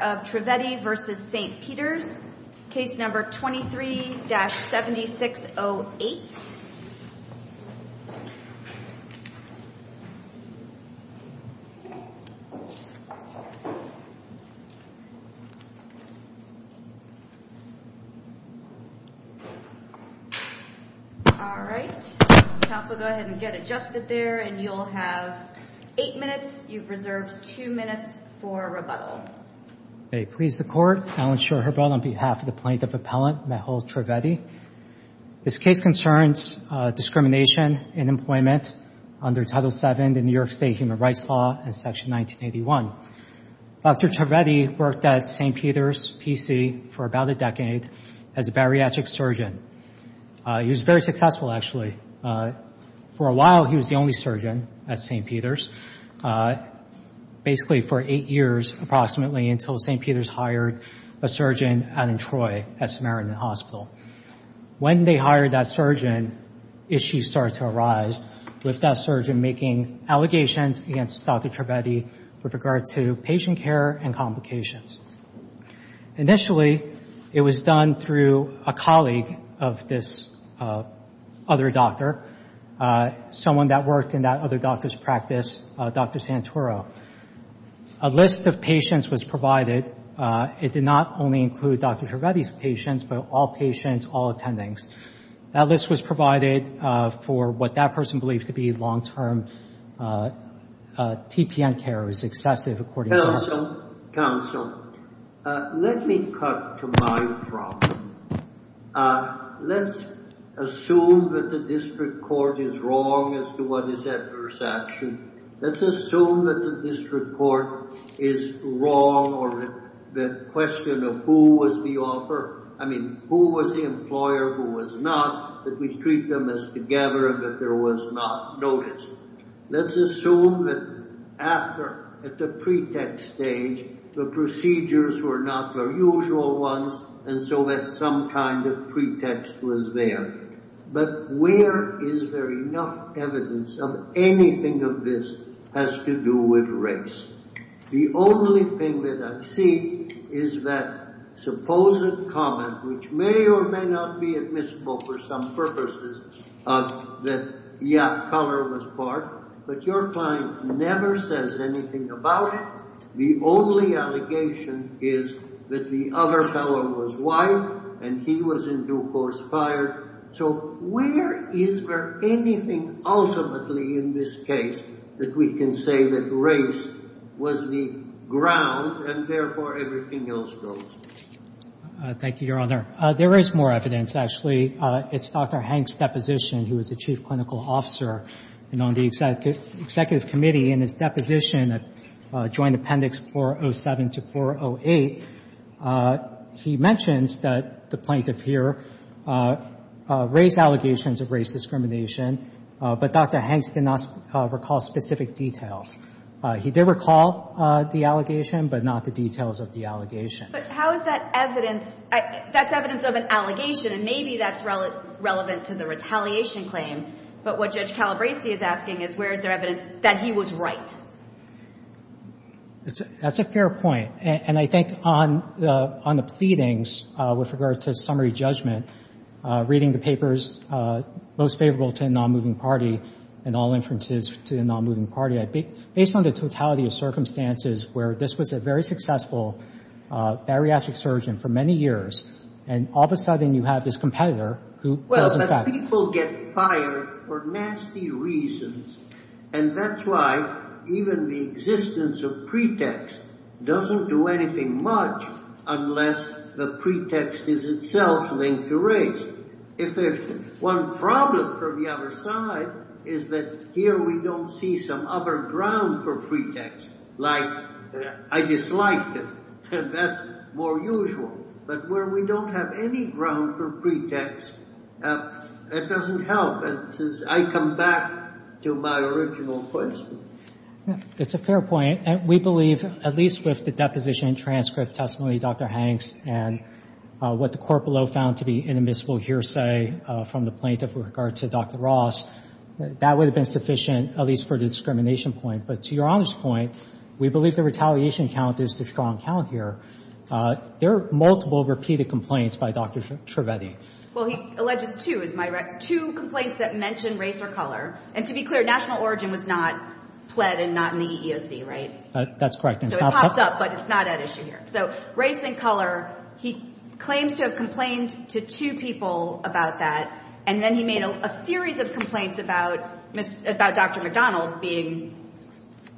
23-7608 May it please the Court, Alan Schorherbert on behalf of the Plaintiff Appellant, Mehul Trivedi. This case concerns discrimination in employment under Title VII of the New York State Human Rights Law in Section 1981. Dr. Trivedi worked at St. Peter's, P.C. for about a decade as a bariatric surgeon. He was very successful, actually. For a while, he was the only surgeon at St. Peter's, basically for eight years, approximately, until St. Peter's hired a surgeon, Adam Troy, at Samaritan Hospital. When they hired that surgeon, issues started to arise with that surgeon making allegations against Dr. Trivedi with regard to patient care and complications. Initially, it was done through a colleague of this other doctor, someone that worked in that other doctor's practice, Dr. Santoro. A list of patients was provided. It did not only include Dr. Trivedi's patients, but all patients, all attendings. That list was provided for what that person believed to be long-term TPN care. It was excessive, according to him. Counsel, let me cut to my problem. Let's assume that the district court is wrong as to what is adverse action. Let's assume that the district court is wrong on the question of who was the employer, who was not, that we treat them as together and that there was not notice. Let's assume that after, at the pretext stage, the procedures were not the usual ones, and so that some kind of pretext was there. But where is there enough evidence of anything of this has to do with race? The only thing that I see is that supposed comment, which may or may not be admissible for some purposes, that, yeah, color was part, but your client never says anything about it. The only allegation is that the other fellow was white and he was in due course fired. So where is there anything ultimately in this case that we can say that race was the ground and, therefore, everything else goes? Thank you, Your Honor. There is more evidence, actually. It's Dr. Hanks' deposition. He was the chief clinical officer. And on the executive committee, in his deposition, Joint Appendix 407 to 408, he mentions that the plaintiff here raised allegations of race discrimination, but Dr. Hanks did not recall specific details. He did recall the allegation, but not the details of the allegation. But how is that evidence? That's evidence of an allegation, and maybe that's relevant to the retaliation claim. But what Judge Calabresi is asking is where is there evidence that he was right? That's a fair point. And I think on the pleadings with regard to summary judgment, reading the papers most favorable to the non-moving party and all inferences to the non-moving party, based on the totality of circumstances where this was a very successful bariatric surgeon for many years, and all of a sudden you have this competitor who tells the fact. Well, but people get fired for nasty reasons, and that's why even the existence of pretext doesn't do anything much unless the pretext is itself linked to race. If there's one problem for the other side is that here we don't see some other ground for pretext, like I disliked it, and that's more usual. But where we don't have any ground for pretext, that doesn't help. And since I come back to my original question. It's a fair point. We believe, at least with the deposition and transcript testimony, Dr. Hanks, and what the court below found to be an admissible hearsay from the plaintiff with regard to Dr. Ross, that would have been sufficient, at least for the discrimination point. But to Your Honor's point, we believe the retaliation count is the strong count here. There are multiple repeated complaints by Dr. Trivedi. Well, he alleges two, is my rec. Two complaints that mention race or color. And to be clear, national origin was not pled and not in the EEOC, right? That's correct. So it pops up, but it's not at issue here. So race and color, he claims to have complained to two people about that. And then he made a series of complaints about Dr. McDonald being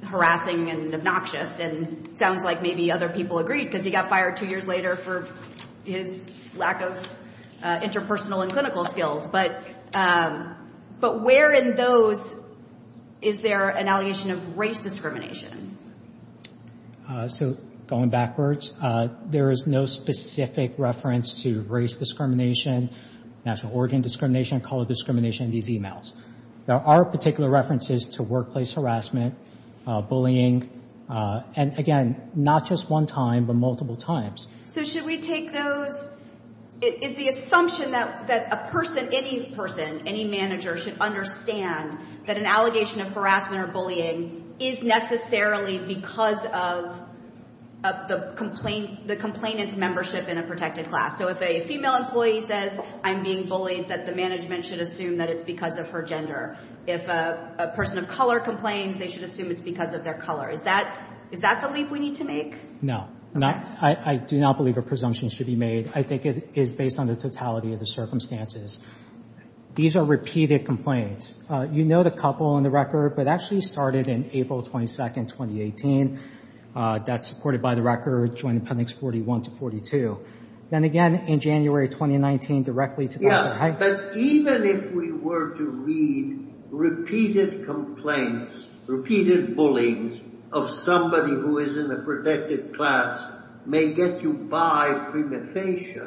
harassing and obnoxious. And it sounds like maybe other people agreed because he got fired two years later for his lack of interpersonal and clinical skills. But where in those is there an allegation of race discrimination? So going backwards, there is no specific reference to race discrimination, national origin discrimination, color discrimination in these e-mails. There are particular references to workplace harassment, bullying. And, again, not just one time, but multiple times. So should we take those? Is the assumption that a person, any person, any manager, should understand that an allegation of harassment or bullying is necessarily because of the complainant's membership in a protected class? So if a female employee says, I'm being bullied, that the management should assume that it's because of her gender. If a person of color complains, they should assume it's because of their color. Is that the leap we need to make? No. I do not believe a presumption should be made. I think it is based on the totality of the circumstances. These are repeated complaints. You note a couple on the record, but actually started in April 22nd, 2018. That's supported by the record, Joint Appendix 41 to 42. Then again, in January 2019, directly to Dr. Heitz. Yeah, but even if we were to read repeated complaints, repeated bullies of somebody who is in a protected class may get you by prima facie,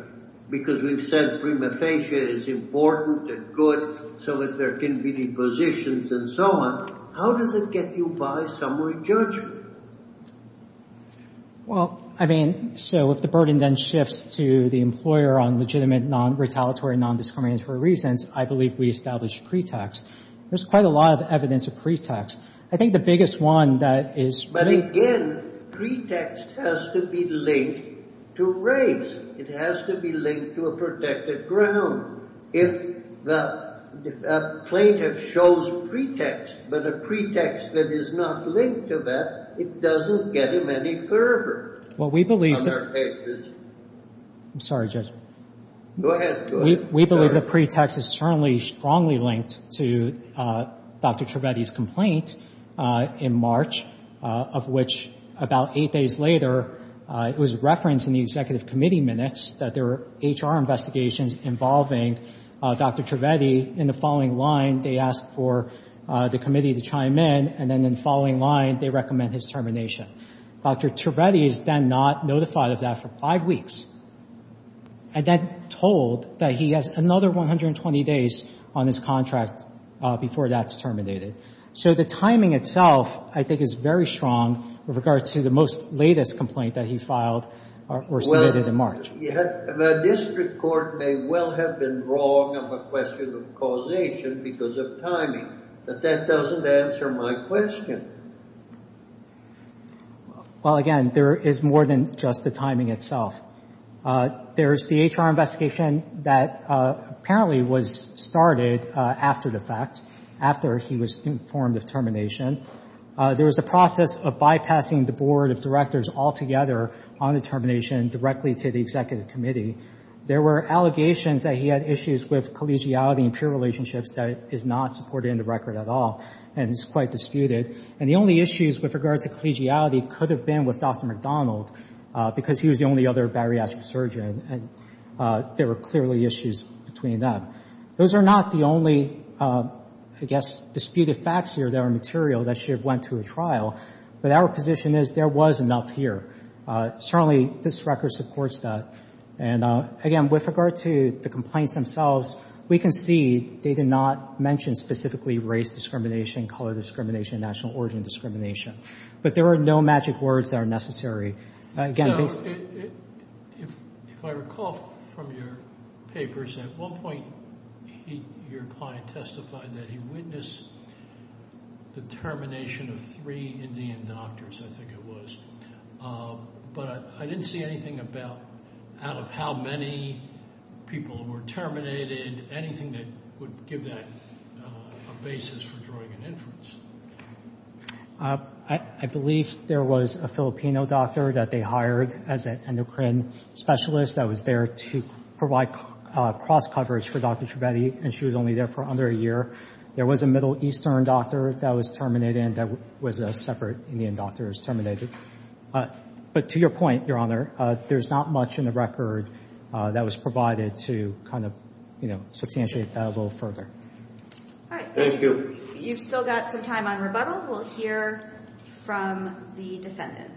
because we've said prima facie is important and good, so is their convenient positions and so on. How does it get you by summary judgment? Well, I mean, so if the burden then shifts to the employer on legitimate, non-retaliatory, non-discriminatory reasons, I believe we establish pretext. There's quite a lot of evidence of pretext. I think the biggest one that is— But again, pretext has to be linked to race. It has to be linked to a protected ground. If the plaintiff shows pretext, but a pretext that is not linked to that, it doesn't get him any further. Well, we believe that— I'm sorry, Judge. Go ahead. We believe that pretext is strongly linked to Dr. Trivedi's complaint in March, of which about eight days later, it was referenced in the executive committee minutes that there were HR investigations involving Dr. Trivedi. In the following line, they asked for the committee to chime in, and then in the following line, they recommend his termination. Dr. Trivedi is then not notified of that for five weeks, and then told that he has another 120 days on his contract before that's terminated. So the timing itself, I think, is very strong with regard to the most latest complaint that he filed or submitted in March. The district court may well have been wrong of a question of causation because of timing, but that doesn't answer my question. Well, again, there is more than just the timing itself. There's the HR investigation that apparently was started after the fact, after he was informed of termination. There was a process of bypassing the board of directors altogether on the termination directly to the executive committee. There were allegations that he had issues with collegiality and peer relationships that is not supported in the record at all, and is quite disputed. And the only issues with regard to collegiality could have been with Dr. McDonald because he was the only other bariatric surgeon, and there were clearly issues between them. Those are not the only, I guess, disputed facts here that are material that should have went to a trial, but our position is there was enough here. Certainly, this record supports that. And, again, with regard to the complaints themselves, we can see they did not mention specifically race discrimination, color discrimination, national origin discrimination. But there are no magic words that are necessary. If I recall from your papers, at one point your client testified that he witnessed the termination of three Indian doctors, I think it was. But I didn't see anything out of how many people were terminated, anything that would give that a basis for drawing an inference. I believe there was a Filipino doctor that they hired as an endocrine specialist that was there to provide cross-coverage for Dr. Trivedi, and she was only there for under a year. There was a Middle Eastern doctor that was terminated, and there was a separate Indian doctor that was terminated. But to your point, Your Honor, there's not much in the record that was provided to kind of substantiate that a little further. All right. Thank you. You've still got some time on rebuttal. We'll hear from the defendant.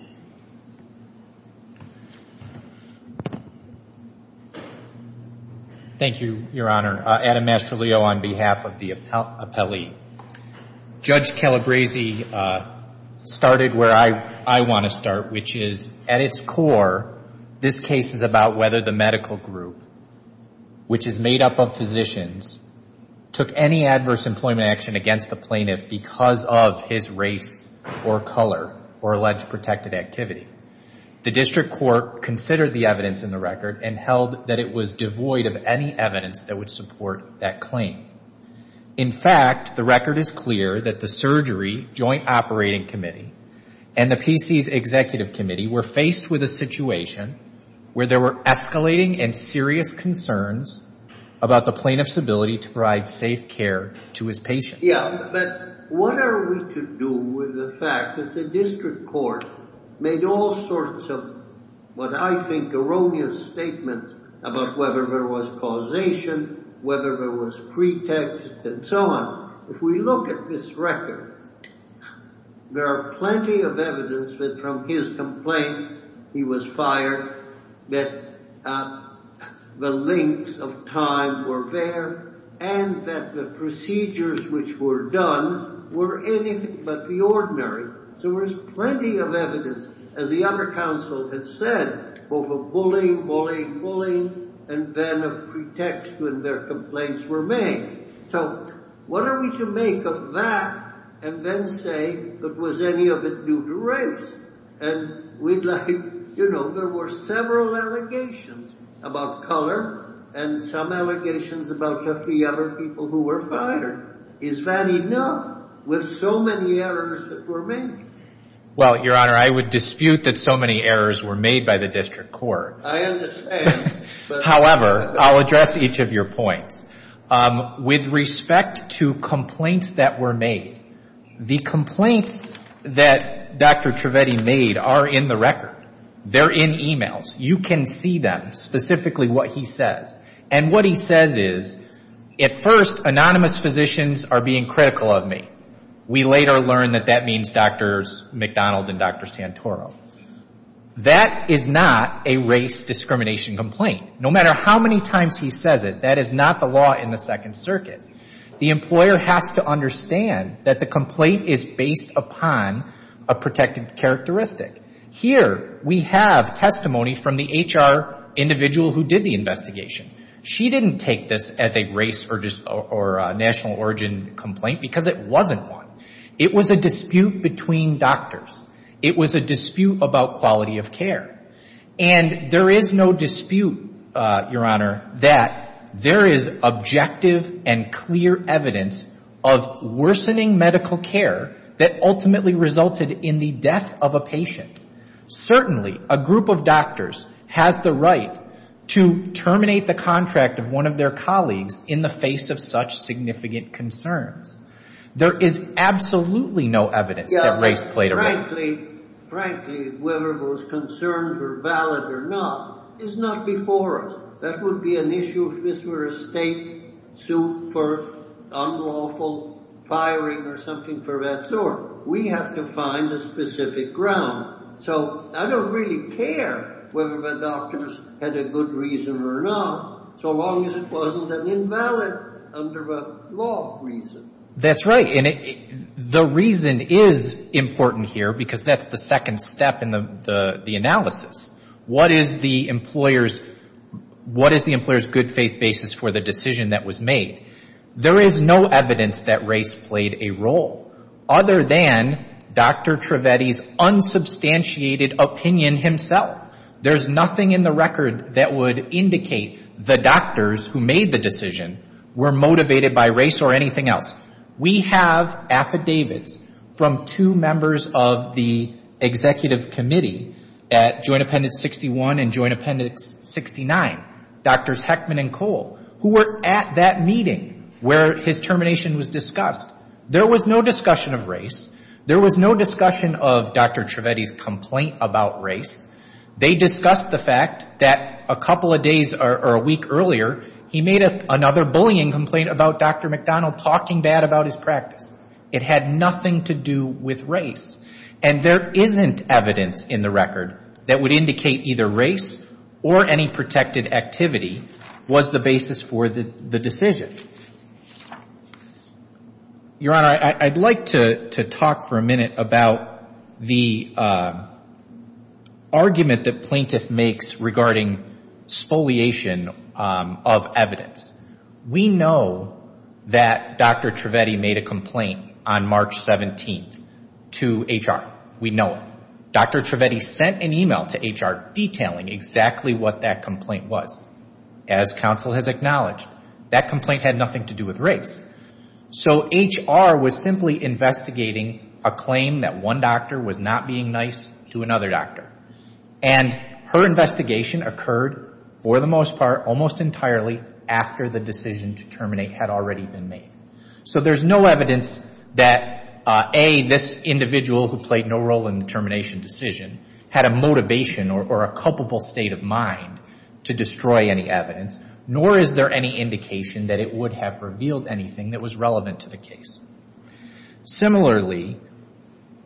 Thank you, Your Honor. Adam Mastrolio on behalf of the appellee. Judge Calabresi started where I want to start, which is at its core, this case is about whether the medical group, which is made up of physicians, took any adverse employment action against the plaintiff because of his race or color or alleged protected activity. The district court considered the evidence in the record and held that it was devoid of any evidence that would support that claim. In fact, the record is clear that the Surgery Joint Operating Committee and the PC's Executive Committee were faced with a situation where there were escalating and serious concerns about the plaintiff's ability to provide safe care to his patients. Yeah. But what are we to do with the fact that the district court made all sorts of what I think erroneous statements about whether there was causation, whether there was pretext, and so on? If we look at this record, there are plenty of evidence that from his complaint, he was fired, that the lengths of time were there, and that the procedures which were done were anything but the ordinary. So there's plenty of evidence, as the other counsel had said, both of bullying, bullying, bullying, and then of pretext when their complaints were made. So what are we to make of that and then say that was any of it due to race? And we'd like, you know, there were several allegations about color and some allegations about the other people who were fired. Is that enough with so many errors that were made? Well, Your Honor, I would dispute that so many errors were made by the district court. I understand. However, I'll address each of your points. With respect to complaints that were made, the complaints that Dr. Trivedi made are in the record. They're in e-mails. You can see them, specifically what he says. And what he says is, at first, anonymous physicians are being critical of me. We later learn that that means Drs. McDonald and Dr. Santoro. That is not a race discrimination complaint. No matter how many times he says it, that is not the law in the Second Circuit. The employer has to understand that the complaint is based upon a protected characteristic. Here we have testimony from the HR individual who did the investigation. She didn't take this as a race or national origin complaint because it wasn't one. It was a dispute between doctors. It was a dispute about quality of care. And there is no dispute, Your Honor, that there is objective and clear evidence of worsening medical care that ultimately resulted in the death of a patient. Certainly, a group of doctors has the right to terminate the contract of one of their colleagues in the face of such significant concerns. There is absolutely no evidence that race played a role. Frankly, frankly, whether those concerns were valid or not is not before us. That would be an issue if this were a state suit for unlawful firing or something of that sort. We have to find a specific ground. So I don't really care whether the doctors had a good reason or not, so long as it wasn't an invalid under a law reason. That's right. And the reason is important here because that's the second step in the analysis. What is the employer's good faith basis for the decision that was made? There is no evidence that race played a role other than Dr. Trivedi's unsubstantiated opinion himself. There's nothing in the record that would indicate the doctors who made the decision were motivated by race or anything else. We have affidavits from two members of the executive committee at Joint Appendix 61 and Joint Appendix 69, Drs. Heckman and Cole, who were at that meeting where his termination was discussed. There was no discussion of race. They discussed the fact that a couple of days or a week earlier, he made another bullying complaint about Dr. McDonald talking bad about his practice. It had nothing to do with race. And there isn't evidence in the record that would indicate either race or any protected activity was the basis for the decision. Your Honor, I'd like to talk for a minute about the argument that plaintiff makes regarding spoliation of evidence. We know that Dr. Trivedi made a complaint on March 17th to HR. We know it. Dr. Trivedi sent an email to HR detailing exactly what that complaint was. As counsel has acknowledged, that complaint had nothing to do with race. So HR was simply investigating a claim that one doctor was not being nice to another doctor. And her investigation occurred, for the most part, almost entirely after the decision to terminate had already been made. So there's no evidence that, A, this individual who played no role in the termination decision had a motivation or a culpable state of mind to destroy any evidence. Nor is there any indication that it would have revealed anything that was relevant to the case. Similarly,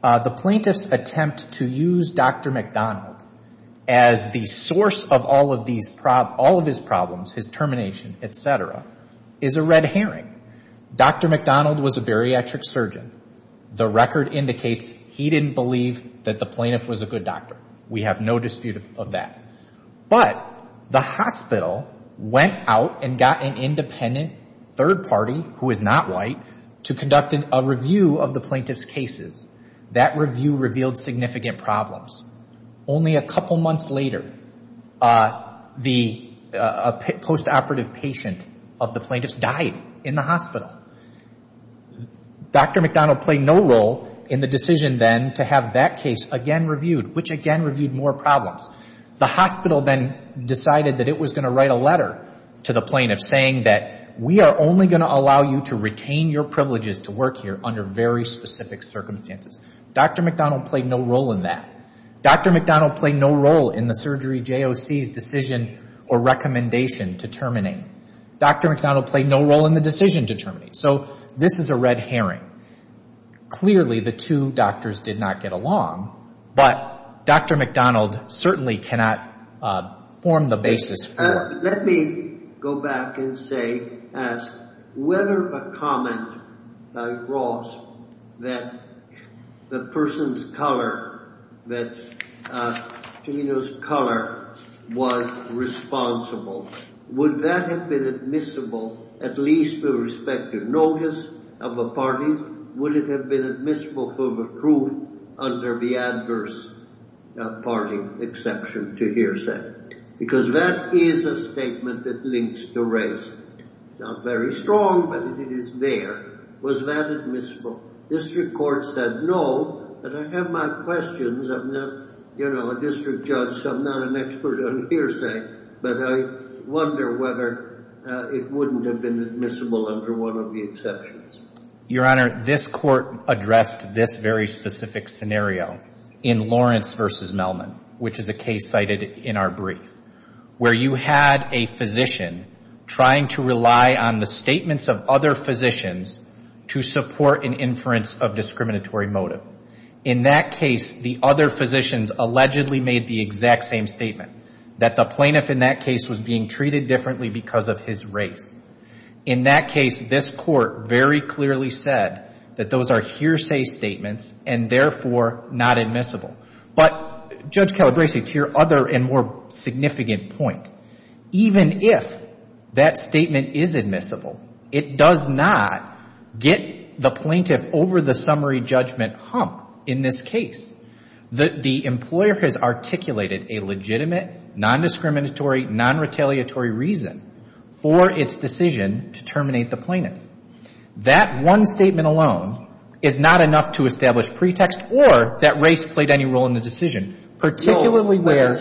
the plaintiff's attempt to use Dr. McDonald as the source of all of his problems, his termination, etc., is a red herring. Dr. McDonald was a bariatric surgeon. The record indicates he didn't believe that the plaintiff was a good doctor. We have no dispute of that. But the hospital went out and got an independent third party, who is not white, to conduct a review of the plaintiff's cases. That review revealed significant problems. Only a couple months later, a post-operative patient of the plaintiff's died in the hospital. Dr. McDonald played no role in the decision then to have that case again reviewed, which again reviewed more problems. The hospital then decided that it was going to write a letter to the plaintiff saying that we are only going to allow you to retain your privileges to work here under very specific circumstances. Dr. McDonald played no role in that. Dr. McDonald played no role in the surgery JOC's decision or recommendation to terminate. Dr. McDonald played no role in the decision to terminate. So this is a red herring. Clearly, the two doctors did not get along, but Dr. McDonald certainly cannot form the basis for it. Let me go back and say, ask, whether a comment by Ross that the person's color, that Chino's color was responsible. Would that have been admissible at least with respect to notice of the parties? Would it have been admissible for the truth under the adverse party exception to hearsay? Because that is a statement that links to race. Not very strong, but it is there. Was that admissible? District court said no, but I have my questions. I'm not, you know, a district judge, so I'm not an expert on hearsay, but I wonder whether it wouldn't have been admissible under one of the exceptions. Your Honor, this court addressed this very specific scenario in Lawrence v. Melman, which is a case cited in our brief, where you had a physician trying to rely on the statements of other physicians to support an inference of discriminatory motive. In that case, the other physicians allegedly made the exact same statement, that the plaintiff in that case was being treated differently because of his race. In that case, this court very clearly said that those are hearsay statements and therefore not admissible. But, Judge Calabresi, to your other and more significant point, even if that statement is admissible, it does not get the plaintiff over the summary judgment hump in this case. The employer has articulated a legitimate, non-discriminatory, non-retaliatory reason for its decision to terminate the plaintiff. That one statement alone is not enough to establish pretext or that race played any role in the decision, particularly where—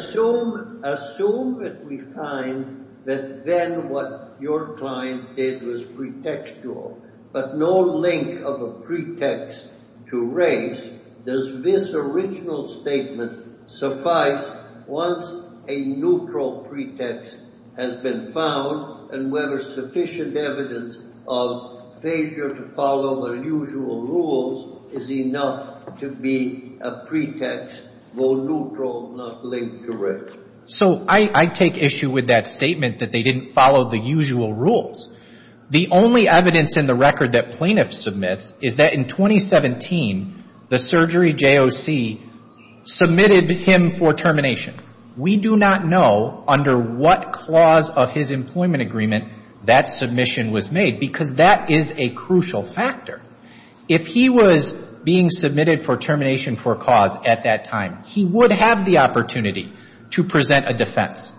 Assume that we find that then what your client did was pretextual, but no link of a pretext to race, does this original statement suffice once a neutral pretext has been found and whether sufficient evidence of failure to follow the usual rules is enough to be a pretext for neutral, not linked to race? So, I take issue with that statement that they didn't follow the usual rules. The only evidence in the record that plaintiff submits is that in 2017, the surgery JOC submitted him for termination. We do not know under what clause of his employment agreement that submission was made because that is a crucial factor. If he was being submitted for termination for cause at that time, he would have the opportunity to present a defense.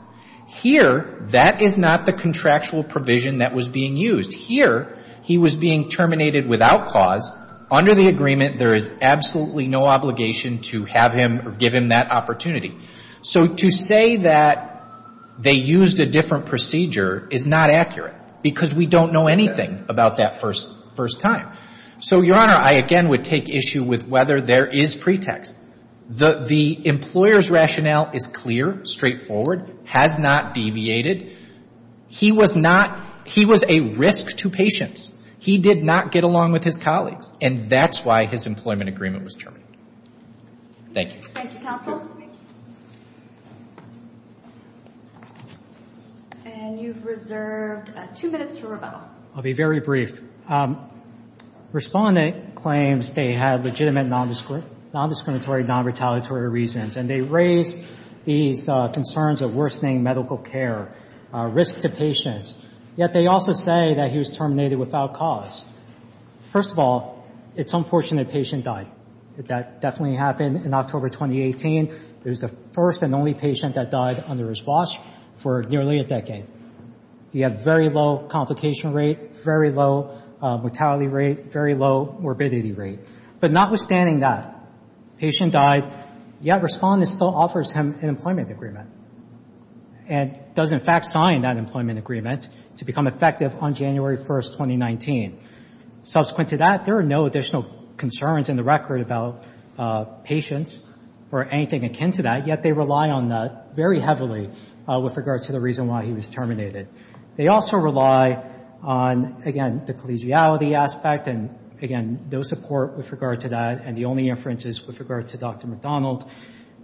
Here, that is not the contractual provision that was being used. Here, he was being terminated without cause. Under the agreement, there is absolutely no obligation to have him or give him that opportunity. So, to say that they used a different procedure is not accurate because we don't know anything about that first time. So, Your Honor, I again would take issue with whether there is pretext. The employer's rationale is clear, straightforward, has not deviated. He was not—he was a risk to patients. He did not get along with his colleagues, and that's why his employment agreement was terminated. Thank you. Thank you, counsel. And you've reserved two minutes for rebuttal. I'll be very brief. Respondent claims they had legitimate nondiscriminatory, nonretaliatory reasons, and they raised these concerns of worsening medical care, risk to patients. Yet, they also say that he was terminated without cause. First of all, it's unfortunate the patient died. That definitely happened in October 2018. It was the first and only patient that died under his watch for nearly a decade. He had very low complication rate, very low mortality rate, very low morbidity rate. But notwithstanding that, patient died, yet Respondent still offers him an employment agreement and does in fact sign that employment agreement to become effective on January 1, 2019. Subsequent to that, there are no additional concerns in the record about patients or anything akin to that, yet they rely on that very heavily with regard to the reason why he was terminated. They also rely on, again, the collegiality aspect, and, again, no support with regard to that. And the only inference is with regard to Dr. McDonald.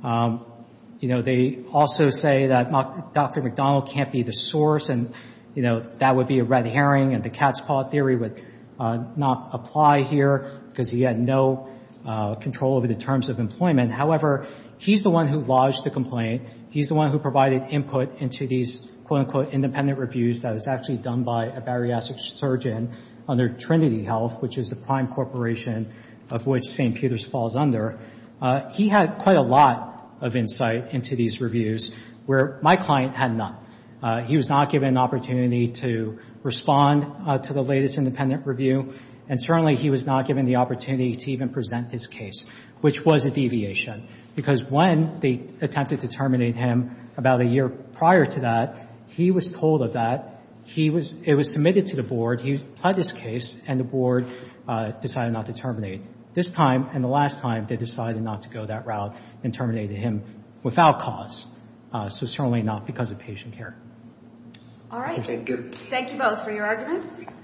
You know, they also say that Dr. McDonald can't be the source, and, you know, that would be a red herring. And the cat's paw theory would not apply here because he had no control over the terms of employment. However, he's the one who lodged the complaint. He's the one who provided input into these, quote-unquote, independent reviews that was actually done by a bariatric surgeon under Trinity Health, which is the prime corporation of which St. Peter's falls under. He had quite a lot of insight into these reviews, where my client had none. He was not given an opportunity to respond to the latest independent review, and certainly he was not given the opportunity to even present his case, which was a deviation, because when they attempted to terminate him about a year prior to that, he was told of that. It was submitted to the board. He pled his case, and the board decided not to terminate. This time and the last time, they decided not to go that route and terminated him without cause, so certainly not because of patient care. All right. Thank you. Thank you both for your arguments.